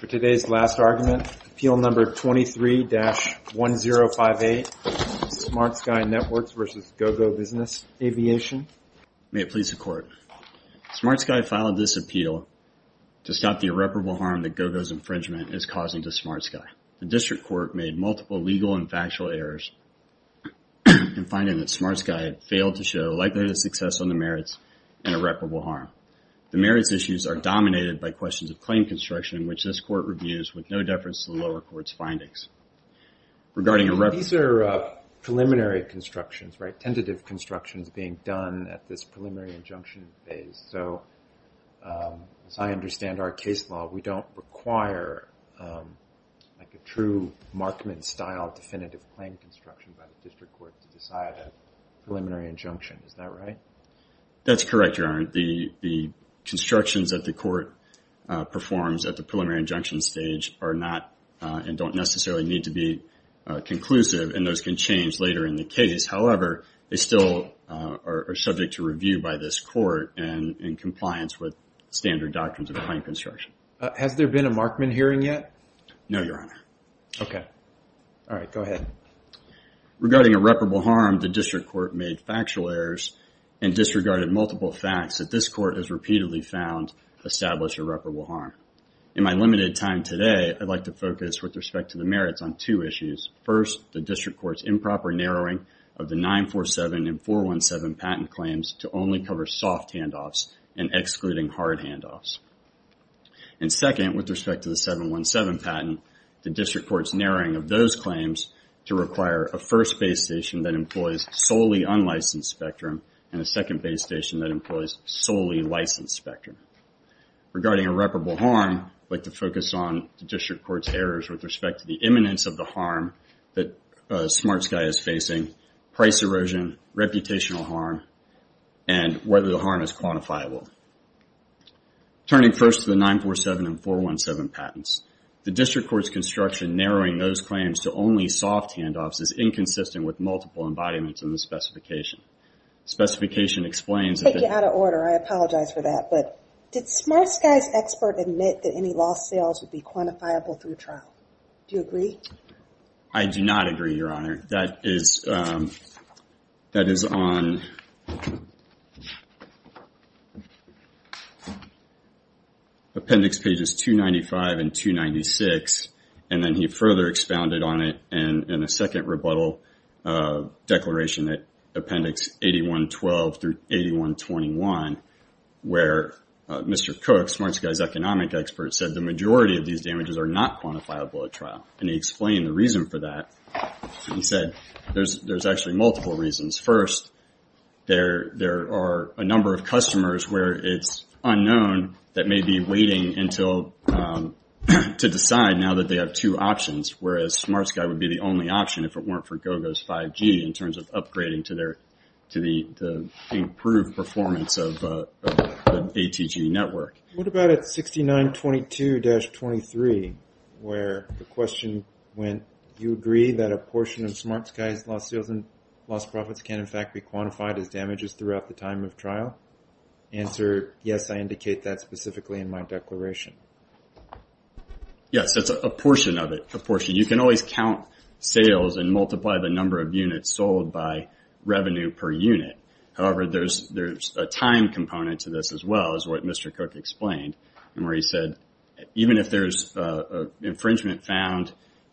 For today's last argument, Appeal Number 23-1058, SmartSky Networks v. Gogo Business Aviation. May it please the Court. SmartSky filed this appeal to stop the irreparable harm that Gogo's infringement is causing to SmartSky. The District Court made multiple legal and factual errors in finding that SmartSky failed to show likelihood of success on the merits and irreparable harm. The merits issues are dominated by questions of claim construction, which this Court reviews with no deference to the lower court's findings. These are preliminary constructions, right? Tentative constructions being done at this preliminary injunction phase. So, as I understand our case law, we don't require a true Markman-style definitive claim construction by the District Court to decide a preliminary injunction. Is that right? That's correct, Your Honor. The constructions that the Court performs at the preliminary injunction stage are not and don't necessarily need to be conclusive and those can change later in the case. However, they still are subject to review by this Court in compliance with standard doctrines of claim construction. Has there been a Markman hearing yet? No, Your Honor. Okay. All right, go ahead. Regarding irreparable harm, the District Court made factual errors and disregarded multiple facts that this Court has repeatedly found establish irreparable harm. In my limited time today, I'd like to focus with respect to the merits on two issues. First, the District Court's improper narrowing of the 947 and 417 patent claims to only cover soft handoffs and excluding hard handoffs. And second, with respect to the 717 patent, the District Court's narrowing of those claims to require a first base station that employs solely unlicensed spectrum and a second base station that employs solely licensed spectrum. Regarding irreparable harm, I'd like to focus on the District Court's errors with respect to the imminence of the harm that SmartSky is facing, price erosion, reputational harm, and whether the harm is quantifiable. Turning first to the 947 and 417 patents, the District Court's construction narrowing those claims to only soft handoffs is inconsistent with multiple embodiments in the specification. Specification explains... I take you out of order. I apologize for that. But did SmartSky's expert admit that any lost sales would be quantifiable through trial? Do you agree? I do not agree, Your Honor. That is on appendix pages 295 and 296, and then he further expounded on it in a second rebuttal declaration at appendix 8112 through 8121, where Mr. Cook, SmartSky's economic expert, said the majority of these damages are not quantifiable at trial. And he explained the reason for that. He said there's actually multiple reasons. First, there are a number of customers where it's unknown that may be waiting to decide now that they have two options, whereas SmartSky would be the only option if it weren't for GoGo's 5G in terms of upgrading to the improved performance of the ATG network. What about at 6922-23, where the question went, do you agree that a portion of SmartSky's lost sales and lost profits can in fact be quantified as damages throughout the time of trial? Answer, yes, I indicate that specifically in my declaration. Yes, that's a portion of it. You can always count sales and multiply the number of units sold by revenue per unit. However, there's a time component to this as well, as what Mr. Cook explained, where he said, even if there's infringement found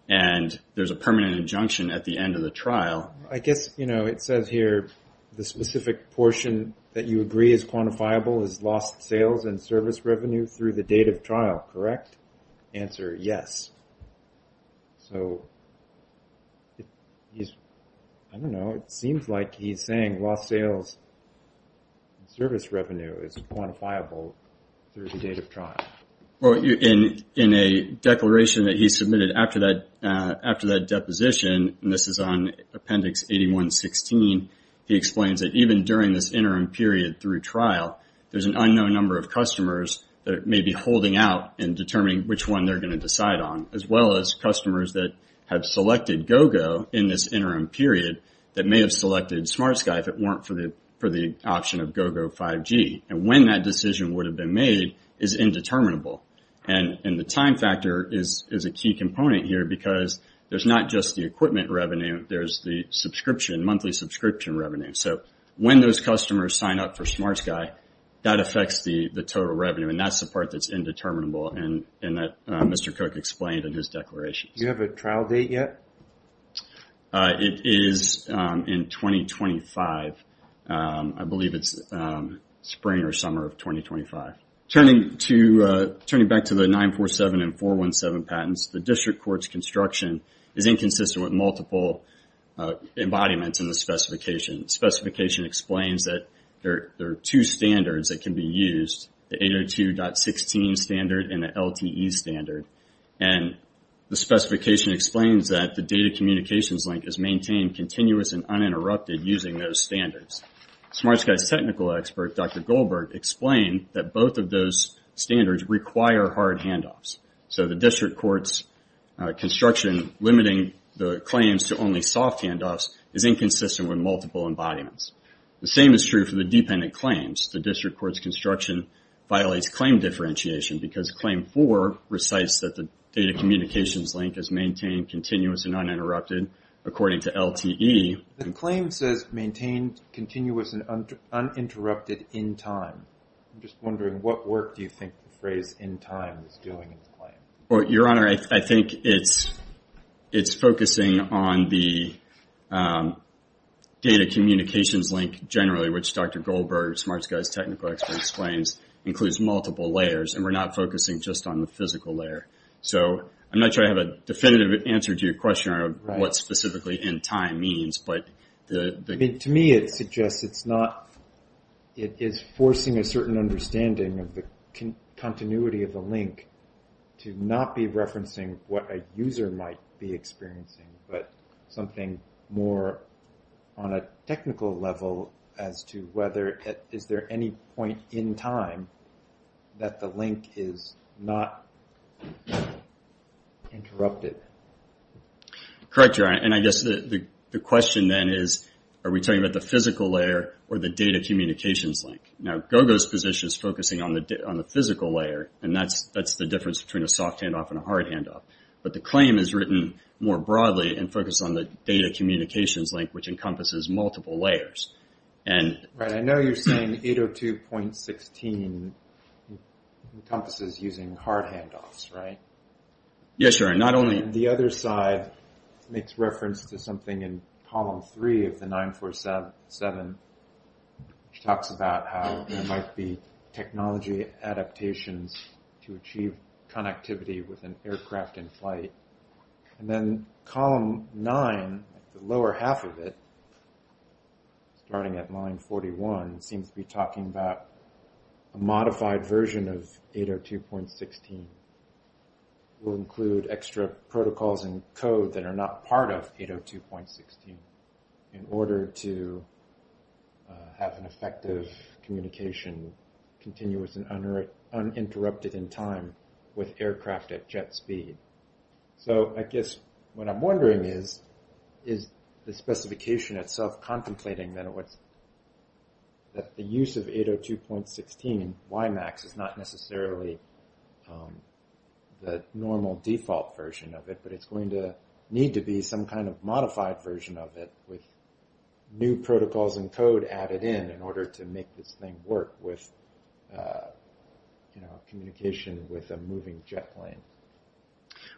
and there's a permanent injunction at the end of the trial... I guess it says here the specific portion that you agree is quantifiable is lost sales and service revenue through the date of trial, correct? Answer, yes. So, I don't know. It seems like he's saying lost sales and service revenue is quantifiable through the date of trial. In a declaration that he submitted after that deposition, and this is on Appendix 8116, he explains that even during this interim period through trial, there's an unknown number of customers that may be holding out and determining which one they're going to decide on, as well as customers that have selected GoGo in this interim period that may have selected SmartSky if it weren't for the option of GoGo 5G. And when that decision would have been made is indeterminable. And the time factor is a key component here because there's not just the equipment revenue, there's the monthly subscription revenue. So, when those customers sign up for SmartSky, that affects the total revenue. And that's the part that's indeterminable and that Mr. Cook explained in his declaration. Do you have a trial date yet? It is in 2025. I believe it's spring or summer of 2025. Turning back to the 947 and 417 patents, the district court's construction is inconsistent with multiple embodiments in the specification. The specification explains that there are two standards that can be used, the 802.16 standard and the LTE standard. And the specification explains that the data communications link is maintained continuous and uninterrupted using those standards. SmartSky's technical expert, Dr. Goldberg, explained that both of those standards require hard handoffs. So, the district court's construction limiting the claims to only soft handoffs is inconsistent with multiple embodiments. The same is true for the dependent claims. The district court's construction violates claim differentiation because claim four recites that the data communications link is maintained continuous and uninterrupted according to LTE. The claim says maintained continuous and uninterrupted in time. I'm just wondering what work do you think the phrase in time is doing in the claim? Your Honor, I think it's focusing on the data communications link generally, which Dr. Goldberg, SmartSky's technical expert, explains includes multiple layers, and we're not focusing just on the physical layer. So, I'm not sure I have a definitive answer to your question on what specifically in time means. To me, it suggests it's forcing a certain understanding of the continuity of the link to not be referencing what a user might be experiencing, but something more on a technical level as to whether is there any point in time that the link is not interrupted. Correct, Your Honor, and I guess the question then is, are we talking about the physical layer or the data communications link? Now, Gogo's position is focusing on the physical layer, and that's the difference between a soft handoff and a hard handoff, but the claim is written more broadly and focused on the data communications link, which encompasses multiple layers. Right, I know you're saying 802.16 encompasses using hard handoffs, right? Yes, Your Honor, not only... The other side makes reference to something in column three of the 947, which talks about how there might be technology adaptations to achieve connectivity with an aircraft in flight. And then column nine, the lower half of it, starting at line 41, seems to be talking about a modified version of 802.16 will include extra protocols and code that are not part of 802.16 in order to have an effective communication continuous and uninterrupted in time with aircraft at jet speed. So I guess what I'm wondering is, is the specification itself contemplating that the use of 802.16 WIMAX is not necessarily the normal default version of it, but it's going to need to be some kind of modified version of it with new protocols and code added in in order to make this thing work with communication with a moving jet plane?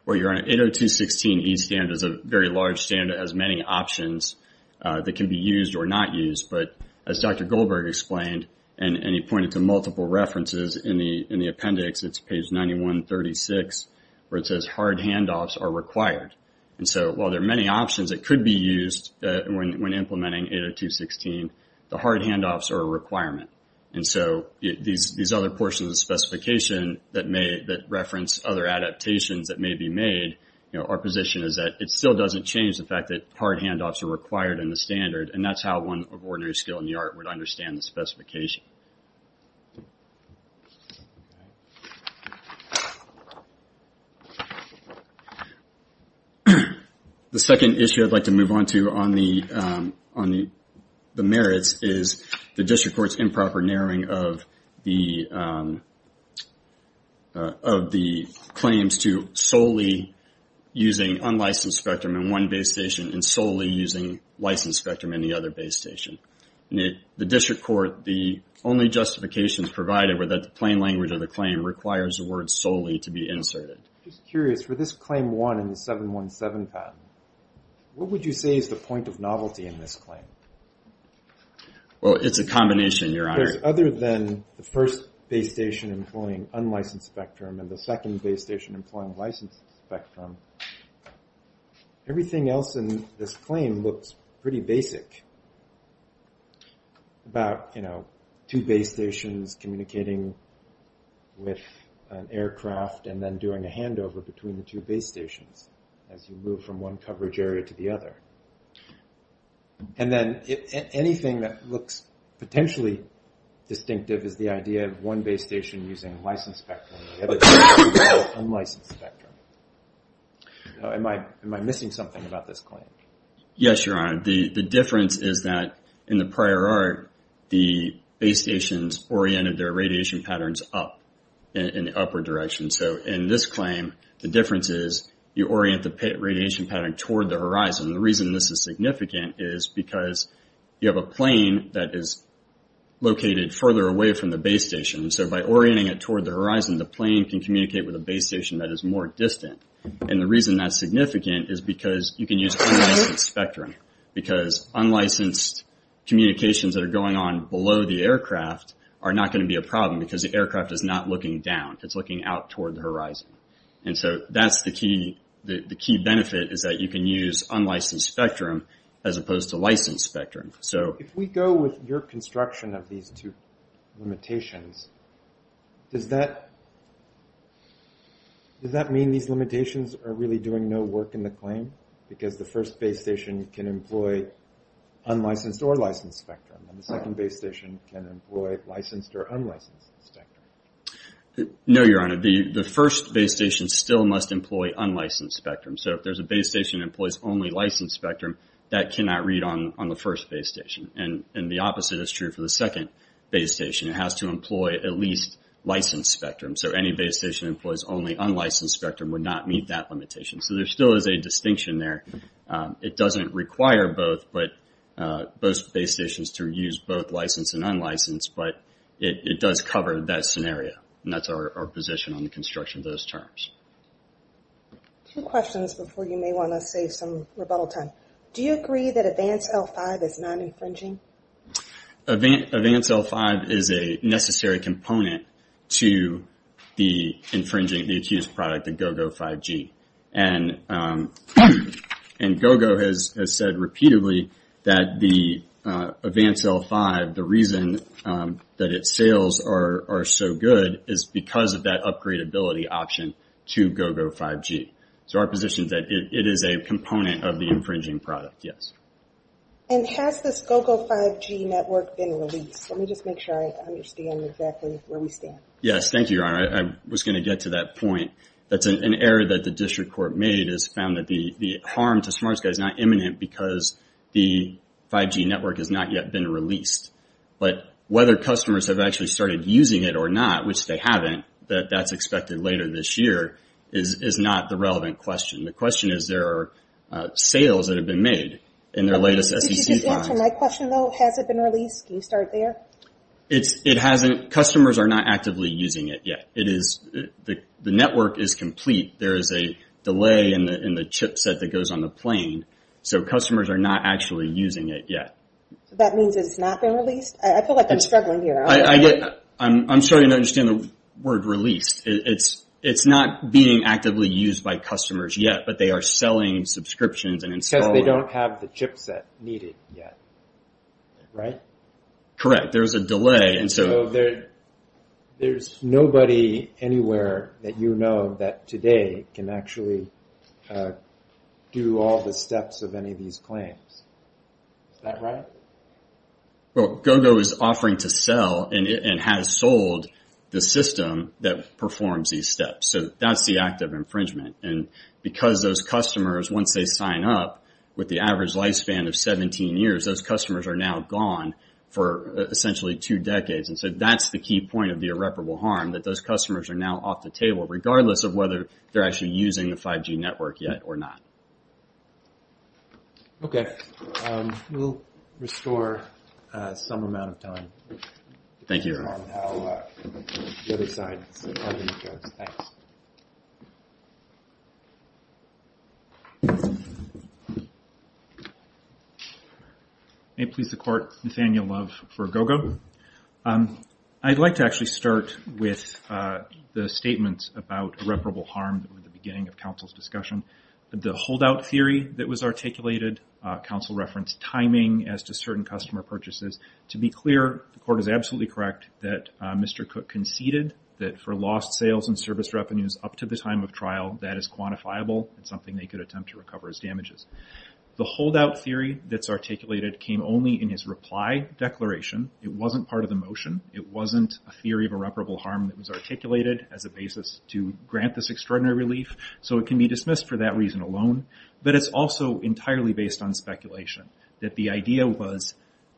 Well, Your Honor, 802.16 E standard is a very large standard. It has many options that can be used or not used, but as Dr. Goldberg explained, and he pointed to multiple references in the appendix, it's page 9136 where it says hard handoffs are required. And so while there are many options that could be used when implementing 802.16, the hard handoffs are a requirement. And so these other portions of the specification that reference other adaptations that may be made, our position is that it still doesn't change the fact that hard handoffs are required in the standard, and that's how one of ordinary skill in the art would understand the specification. The second issue I'd like to move on to on the merits is the district court's improper narrowing of the claims to solely using unlicensed spectrum in one base station and solely using licensed spectrum in the other base station. In the district court, the only justifications provided were that the plain language of the claim requires the word solely to be inserted. I'm just curious, for this claim 1 in the 717 patent, what would you say is the point of novelty in this claim? Well, it's a combination, Your Honor. Because other than the first base station employing unlicensed spectrum and the second base station employing licensed spectrum, everything else in this claim looks pretty basic. About, you know, two base stations communicating with an aircraft and then doing a handover between the two base stations as you move from one coverage area to the other. And then anything that looks potentially distinctive is the idea of one base station using licensed spectrum and the other base station using unlicensed spectrum. Am I missing something about this claim? Yes, Your Honor. The difference is that in the prior art, the base stations oriented their radiation patterns up in the upward direction. So in this claim, the difference is you orient the radiation pattern toward the horizon. The reason this is significant is because you have a plane that is located further away from the base station. So by orienting it toward the horizon, the plane can communicate with a base station that is more distant. And the reason that's significant is because you can use unlicensed spectrum. Because unlicensed communications that are going on below the aircraft are not going to be a problem because the aircraft is not looking down. It's looking out toward the horizon. And so that's the key benefit is that you can use unlicensed spectrum as opposed to licensed spectrum. If we go with your construction of these two limitations, does that mean these limitations are really doing no work in the claim? Because the first base station can employ unlicensed or licensed spectrum, and the second base station can employ licensed or unlicensed spectrum. No, Your Honor. The first base station still must employ unlicensed spectrum. So if there's a base station that employs only licensed spectrum, that cannot read on the first base station. And the opposite is true for the second base station. It has to employ at least licensed spectrum. So any base station that employs only unlicensed spectrum would not meet that limitation. So there still is a distinction there. It doesn't require both base stations to use both licensed and unlicensed, but it does cover that scenario. And that's our position on the construction of those terms. Two questions before you may want to save some rebuttal time. Do you agree that Advance L5 is non-infringing? Advance L5 is a necessary component to the infringing the accused product, the GOGO 5G. And GOGO has said repeatedly that the Advance L5, the reason that its sales are so good is because of that upgradeability option to GOGO 5G. So our position is that it is a component of the infringing product, yes. And has this GOGO 5G network been released? Let me just make sure I understand exactly where we stand. Yes, thank you, Your Honor. I was going to get to that point. That's an error that the district court made, is found that the harm to SmartSky is not imminent because the 5G network has not yet been released. But whether customers have actually started using it or not, which they haven't, that that's expected later this year, is not the relevant question. The question is there are sales that have been made in their latest SEC plans. Did you just answer my question, though? Has it been released? Can you start there? It hasn't. Customers are not actively using it yet. The network is complete. There is a delay in the chip set that goes on the plane. So customers are not actually using it yet. That means it's not been released? I feel like I'm struggling here. I'm starting to understand the word released. It's not being actively used by customers yet, but they are selling subscriptions and installing them. Because they don't have the chip set needed yet, right? Correct. There's a delay. There's nobody anywhere that you know that today can actually do all the steps of any of these claims. Is that right? Well, GoGo is offering to sell and has sold the system that performs these steps. So that's the act of infringement. And because those customers, once they sign up, with the average lifespan of 17 years, those customers are now gone for essentially two decades. And so that's the key point of the irreparable harm, that those customers are now off the table, regardless of whether they're actually using the 5G network yet or not. Okay. We'll restore some amount of time. Thank you. The other side. Thanks. May it please the Court, Nathaniel Love for GoGo. I'd like to actually start with the statements about irreparable harm at the beginning of counsel's discussion. The holdout theory that was articulated, counsel referenced timing as to certain customer purchases. To be clear, the Court is absolutely correct that Mr. Cook conceded that for lost sales and service revenues up to the time of trial, that is quantifiable. It's something they could attempt to recover as damages. The holdout theory that's articulated came only in his reply declaration. It wasn't part of the motion. It wasn't a theory of irreparable harm that was articulated as a basis to grant this extraordinary relief. So it can be dismissed for that reason alone. But it's also entirely based on speculation, that the idea was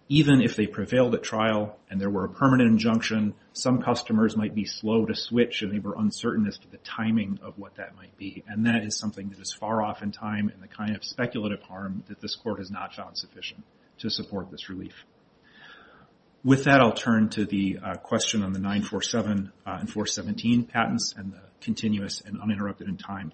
even if they prevailed at trial and there were a permanent injunction, some customers might be slow to switch and they were uncertain as to the timing of what that might be. And that is something that is far off in time in the kind of speculative harm that this Court has not found sufficient to support this relief. With that, I'll turn to the question on the 947 and 417 patents and the continuous and uninterrupted in time.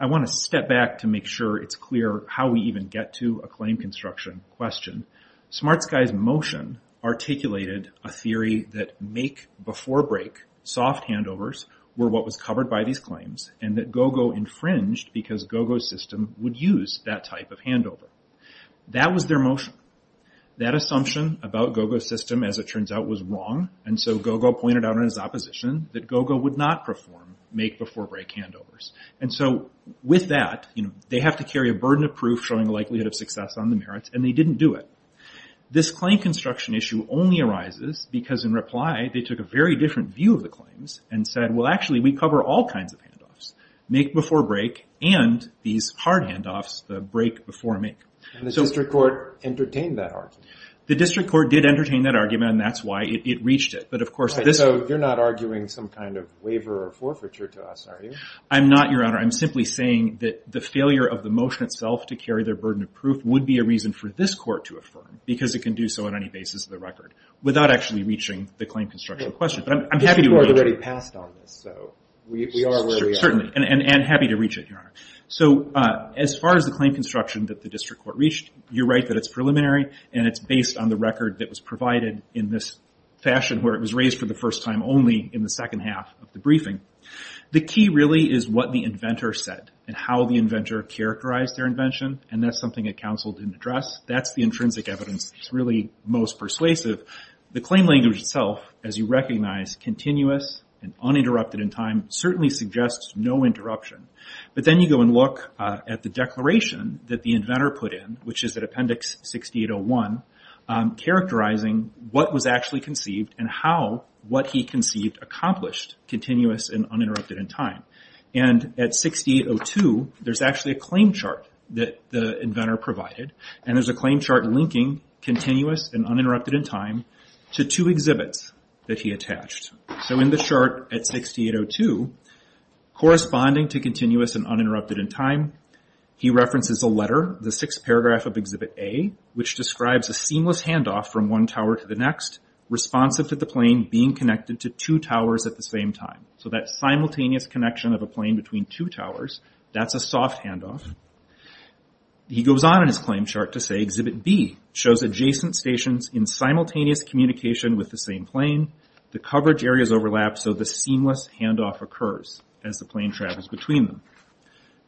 I want to step back to make sure it's clear how we even get to a claim construction question. Smart Sky's motion articulated a theory that make-before-break soft handovers were what was covered by these claims and that GOGO infringed because GOGO's system would use that type of handover. That was their motion. That assumption about GOGO's system, as it turns out, was wrong. And so GOGO pointed out in its opposition that GOGO would not perform make-before-break handovers. And so with that, they have to carry a burden of proof showing a likelihood of success on the merits and they didn't do it. This claim construction issue only arises because, in reply, they took a very different view of the claims and said, well, actually, we cover all kinds of handoffs, make-before-break and these hard handoffs, the break-before-make. And the District Court entertained that argument? The District Court did entertain that argument and that's why it reached it. So you're not arguing some kind of waiver or forfeiture to us, are you? I'm not, Your Honor. I'm simply saying that the failure of the motion itself to carry their burden of proof would be a reason for this Court to affirm because it can do so on any basis of the record without actually reaching the claim construction question. But I'm happy to reach it. We're already passed on this, so we are where we are. Certainly, and happy to reach it, Your Honor. So as far as the claim construction that the District Court reached, you're right that it's preliminary and it's based on the record that was provided in this fashion where it was raised for the first time only in the second half of the briefing. The key really is what the inventor said and how the inventor characterized their invention and that's something that counsel didn't address. That's the intrinsic evidence that's really most persuasive. The claim language itself, as you recognize, continuous and uninterrupted in time certainly suggests no interruption. But then you go and look at the declaration that the inventor put in, which is at Appendix 6801, characterizing what was actually conceived and how what he conceived accomplished continuous and uninterrupted in time. And at 6802, there's actually a claim chart that the inventor provided and there's a claim chart linking continuous and uninterrupted in time to two exhibits that he attached. So in the chart at 6802, corresponding to continuous and uninterrupted in time, he references a letter, the sixth paragraph of Exhibit A, which describes a seamless handoff from one tower to the next, responsive to the plane being connected to two towers at the same time. So that simultaneous connection of a plane between two towers, that's a soft handoff. He goes on in his claim chart to say, Exhibit B shows adjacent stations in simultaneous communication with the same plane. The coverage areas overlap so the seamless handoff occurs as the plane travels between them.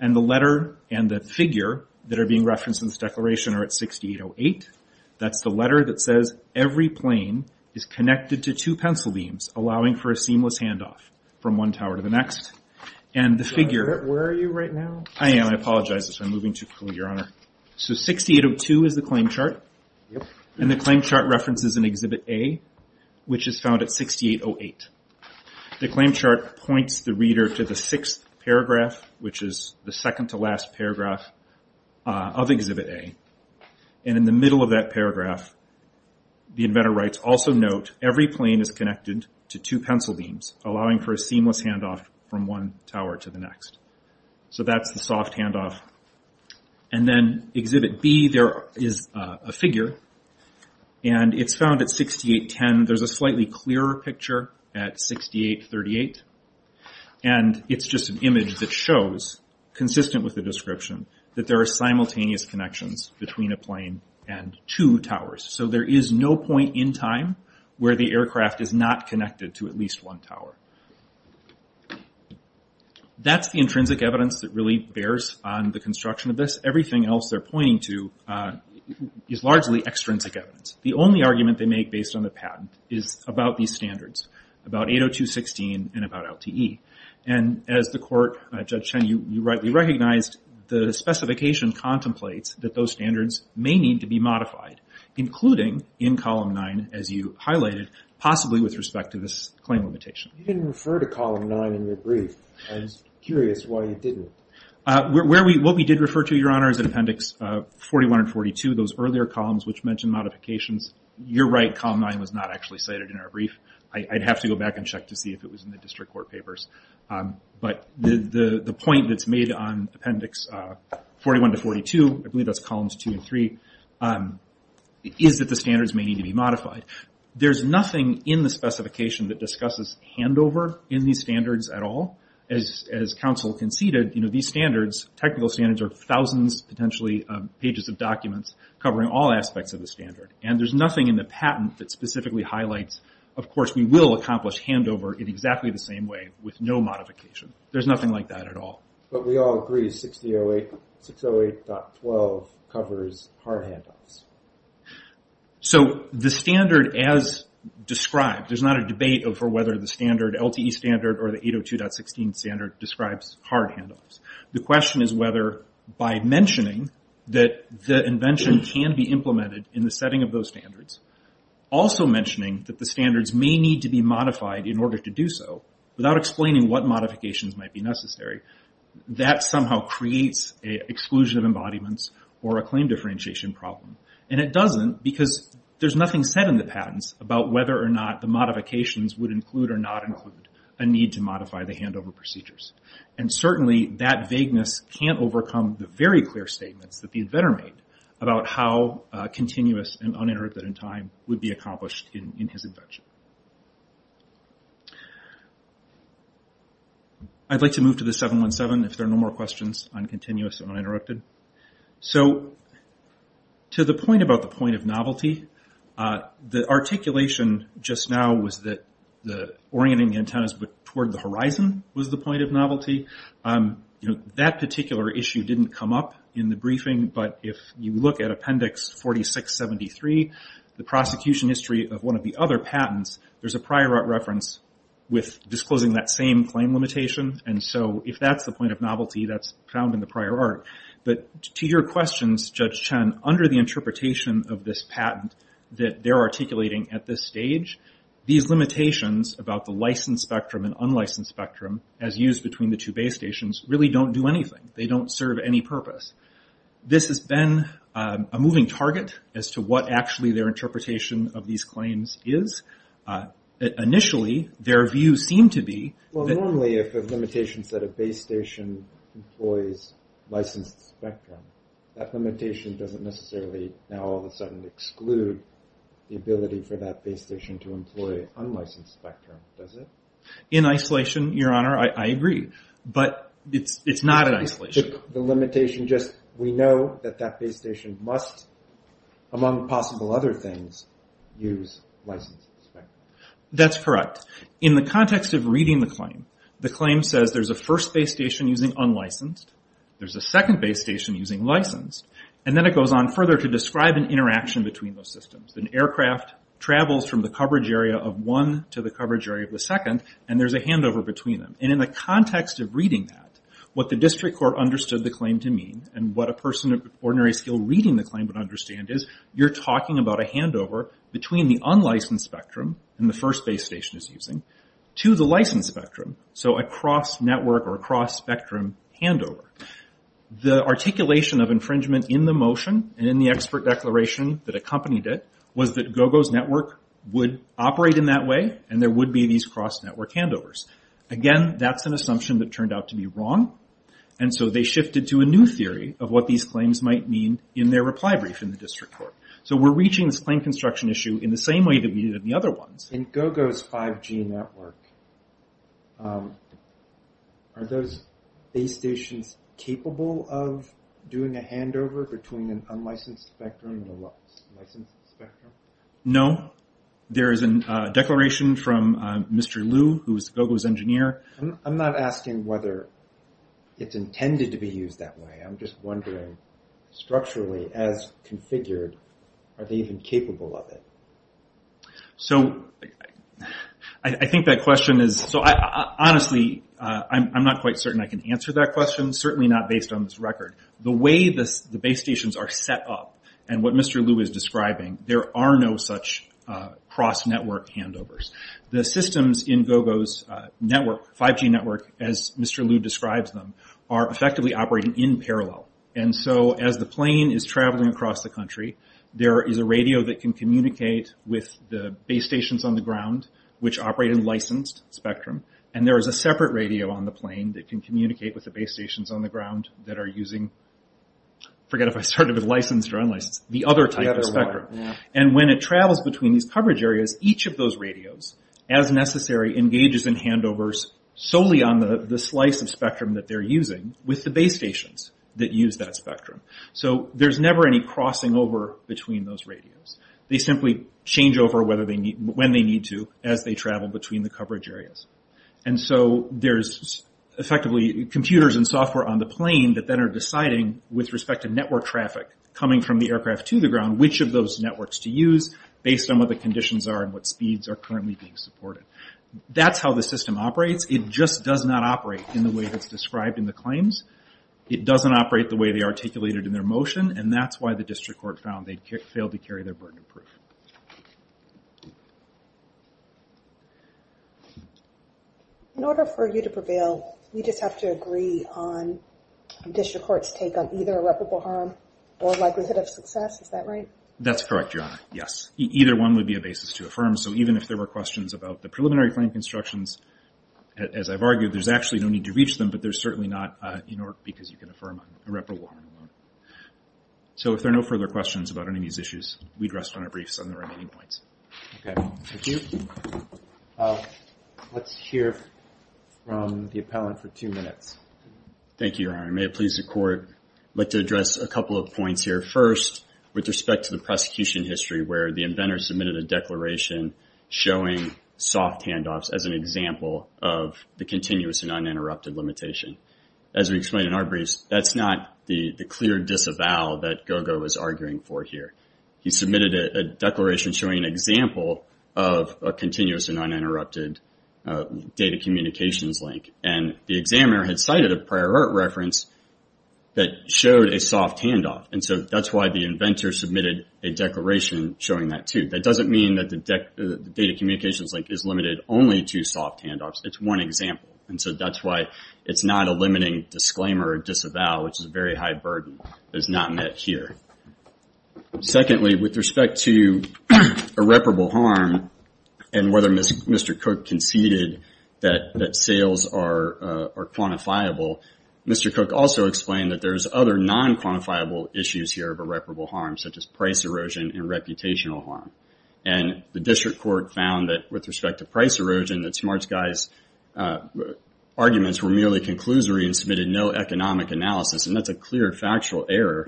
And the letter and the figure that are being referenced in this declaration are at 6808. That's the letter that says every plane is connected to two pencil beams, allowing for a seamless handoff from one tower to the next. And the figure... Where are you right now? I am, I apologize. I'm moving too quickly, Your Honor. So 6802 is the claim chart. And the claim chart references an Exhibit A, which is found at 6808. The claim chart points the reader to the sixth paragraph, which is the second to last paragraph of Exhibit A. And in the middle of that paragraph, the inventor writes, Also note, every plane is connected to two pencil beams, allowing for a seamless handoff from one tower to the next. So that's the soft handoff. And then Exhibit B, there is a figure. And it's found at 6810. There's a slightly clearer picture at 6838. And it's just an image that shows, consistent with the description, that there are simultaneous connections between a plane and two towers. So there is no point in time where the aircraft is not connected to at least one tower. That's the intrinsic evidence that really bears on the construction of this. Everything else they're pointing to is largely extrinsic evidence. The only argument they make based on the patent is about these standards, about 80216 and about LTE. And as the court, Judge Chen, you rightly recognized, the specification contemplates that those standards may need to be modified, including in Column 9, as you highlighted, possibly with respect to this claim limitation. You didn't refer to Column 9 in your brief. I was curious why you didn't. What we did refer to, Your Honor, is in Appendix 41 and 42, those earlier columns which mentioned modifications. You're right, Column 9 was not actually cited in our brief. I'd have to go back and check to see if it was in the district court papers. But the point that's made on Appendix 41 to 42, I believe that's Columns 2 and 3, is that the standards may need to be modified. There's nothing in the specification that discusses handover in these standards at all. As counsel conceded, these standards, technical standards, are thousands, potentially pages of documents covering all aspects of the standard. There's nothing in the patent that specifically highlights, of course we will accomplish handover in exactly the same way with no modification. There's nothing like that at all. But we all agree 608.12 covers hard handoffs. The standard as described, there's not a debate over whether the standard, LTE standard or the 802.16 standard, describes hard handoffs. The question is whether by mentioning that the invention can be implemented in the setting of those standards, also mentioning that the standards may need to be modified in order to do so, without explaining what modifications might be necessary, that somehow creates an exclusion of embodiments or a claim differentiation problem. It doesn't because there's nothing said in the patents about whether or not the modifications would include or not include a need to modify the handover procedures. Certainly that vagueness can't overcome the very clear statements that the inventor made about how continuous and uninterrupted in time would be accomplished in his invention. I'd like to move to the 717 if there are no more questions on continuous and uninterrupted. To the point about the point of novelty, the articulation just now was that orienting antennas toward the horizon was the point of novelty. That particular issue didn't come up in the briefing, but if you look at Appendix 4673, the prosecution history of one of the other patents, there's a prior art reference with disclosing that same claim limitation. If that's the point of novelty, that's found in the prior art. To your questions, Judge Chen, under the interpretation of this patent that they're articulating at this stage, these limitations about the licensed spectrum and unlicensed spectrum, as used between the two base stations, really don't do anything. They don't serve any purpose. This has been a moving target as to what actually their interpretation of these claims is. Initially, their view seemed to be... Normally, if the limitations that a base station employs licensed spectrum, that limitation doesn't necessarily now all of a sudden exclude the ability for that base station to employ unlicensed spectrum, does it? In isolation, Your Honor, I agree. But it's not in isolation. The limitation just... We know that that base station must, among possible other things, use licensed spectrum. That's correct. In the context of reading the claim, the claim says there's a first base station using unlicensed, there's a second base station using licensed, and then it goes on further to describe an interaction between those systems. An aircraft travels from the coverage area of one to the coverage area of the second, and there's a handover between them. In the context of reading that, what the district court understood the claim to mean, and what a person of ordinary skill reading the claim would understand is, you're talking about a handover between the unlicensed spectrum, and the first base station it's using, to the licensed spectrum, so a cross-network or a cross-spectrum handover. The articulation of infringement in the motion, and in the expert declaration that accompanied it, was that GOGO's network would operate in that way, and there would be these cross-network handovers. Again, that's an assumption that turned out to be wrong, and so they shifted to a new theory of what these claims might mean in their reply brief in the district court. We're reaching this claim construction issue in the same way that we did in the other ones. In GOGO's 5G network, are those base stations capable of doing a handover between an unlicensed spectrum and a licensed spectrum? No. There is a declaration from Mr. Liu, who is GOGO's engineer. I'm not asking whether it's intended to be used that way. I'm just wondering, structurally, as configured, are they even capable of it? I think that question is... Honestly, I'm not quite certain I can answer that question, certainly not based on this record. The way the base stations are set up, and what Mr. Liu is describing, there are no such cross-network handovers. The systems in GOGO's 5G network, as Mr. Liu describes them, are effectively operating in parallel. As the plane is traveling across the country, there is a radio that can communicate with the base stations on the ground, which operate in licensed spectrum, and there is a separate radio on the plane that can communicate with the base stations on the ground that are using... I forget if I started with licensed or unlicensed. The other type of spectrum. When it travels between these coverage areas, each of those radios, as necessary, engages in handovers solely on the slice of spectrum that they're using, with the base stations that use that spectrum. There's never any crossing over between those radios. They simply change over when they need to as they travel between the coverage areas. There's effectively computers and software on the plane that then are deciding, with respect to network traffic coming from the aircraft to the ground, which of those networks to use, based on what the conditions are and what speeds are currently being supported. That's how the system operates. It just does not operate in the way that's described in the claims. It doesn't operate the way they articulated in their motion, and that's why the district court found they failed to carry their burden of proof. In order for you to prevail, we just have to agree on a more likelihood of success, is that right? That's correct, Your Honor. Yes. Either one would be a basis to affirm, so even if there were questions about the preliminary claim constructions, as I've argued, there's actually no need to reach them, but there's certainly not, because you can affirm irreparable harm alone. If there are no further questions about any of these issues, we'd rest on our briefs on the remaining points. Thank you. Let's hear from the appellant for two minutes. Thank you, Your Honor. May it please the Court, I'd like to address a couple of points here. First, with respect to the prosecution history, where the inventor submitted a declaration showing soft handoffs as an example of the continuous and uninterrupted limitation. As we explained in our briefs, that's not the clear disavow that Gogo is arguing for here. He submitted a declaration showing an example of a continuous and uninterrupted data communications link, and the examiner had cited a prior art reference that showed a soft handoff, and so that's why the inventor submitted a declaration showing that too. That doesn't mean that the data communications link is limited only to soft handoffs. It's one example, and so that's why it's not a limiting disclaimer or disavow, which is a very high burden. It's not met here. Secondly, with respect to irreparable harm and whether Mr. Cook conceded that sales are quantifiable, Mr. Cook also explained that there's other non-quantifiable issues here of irreparable harm, such as price erosion and reputational harm, and the district court found that with respect to price erosion, that SmartSky's arguments were merely conclusory and submitted no economic analysis, and that's a clear factual error.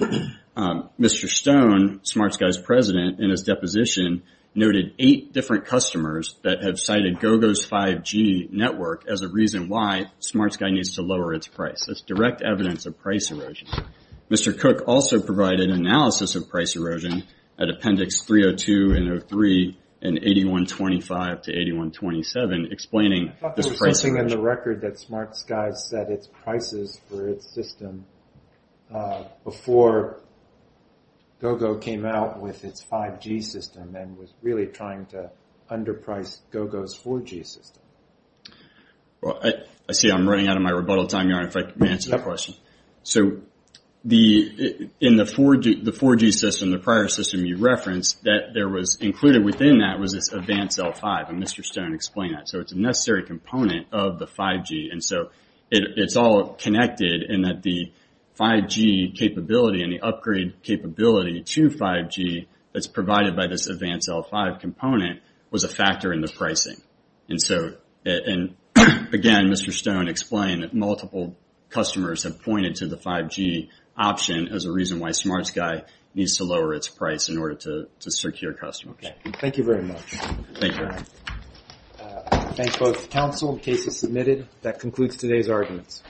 Mr. Stone, SmartSky's president, in his deposition, noted eight different customers that have cited Gogo's 5G network as a reason why SmartSky needs to lower its price. That's direct evidence of price erosion. Mr. Cook also provided analysis of price erosion at Appendix 302 and 303 and 8125 to 8127, explaining the price erosion. I thought there was something in the record that SmartSky set its prices for its system before Gogo came out with its 5G system and was really trying to underprice Gogo's 4G system. I see I'm running out of my rebuttal time. May I answer the question? So in the 4G system, the prior system you referenced, that there was included within that was this Advanced L5, and Mr. Stone explained that. So it's a necessary component of the 5G, and so it's all connected in that the 5G capability and the upgrade capability to 5G that's provided by this Advanced L5 component was a factor in the pricing. And so, again, Mr. Stone explained that multiple customers have pointed to the 5G option as a reason why SmartSky needs to lower its price in order to secure customers. Thank you very much. Thank you. I thank both the Council. The case is submitted. That concludes today's arguments.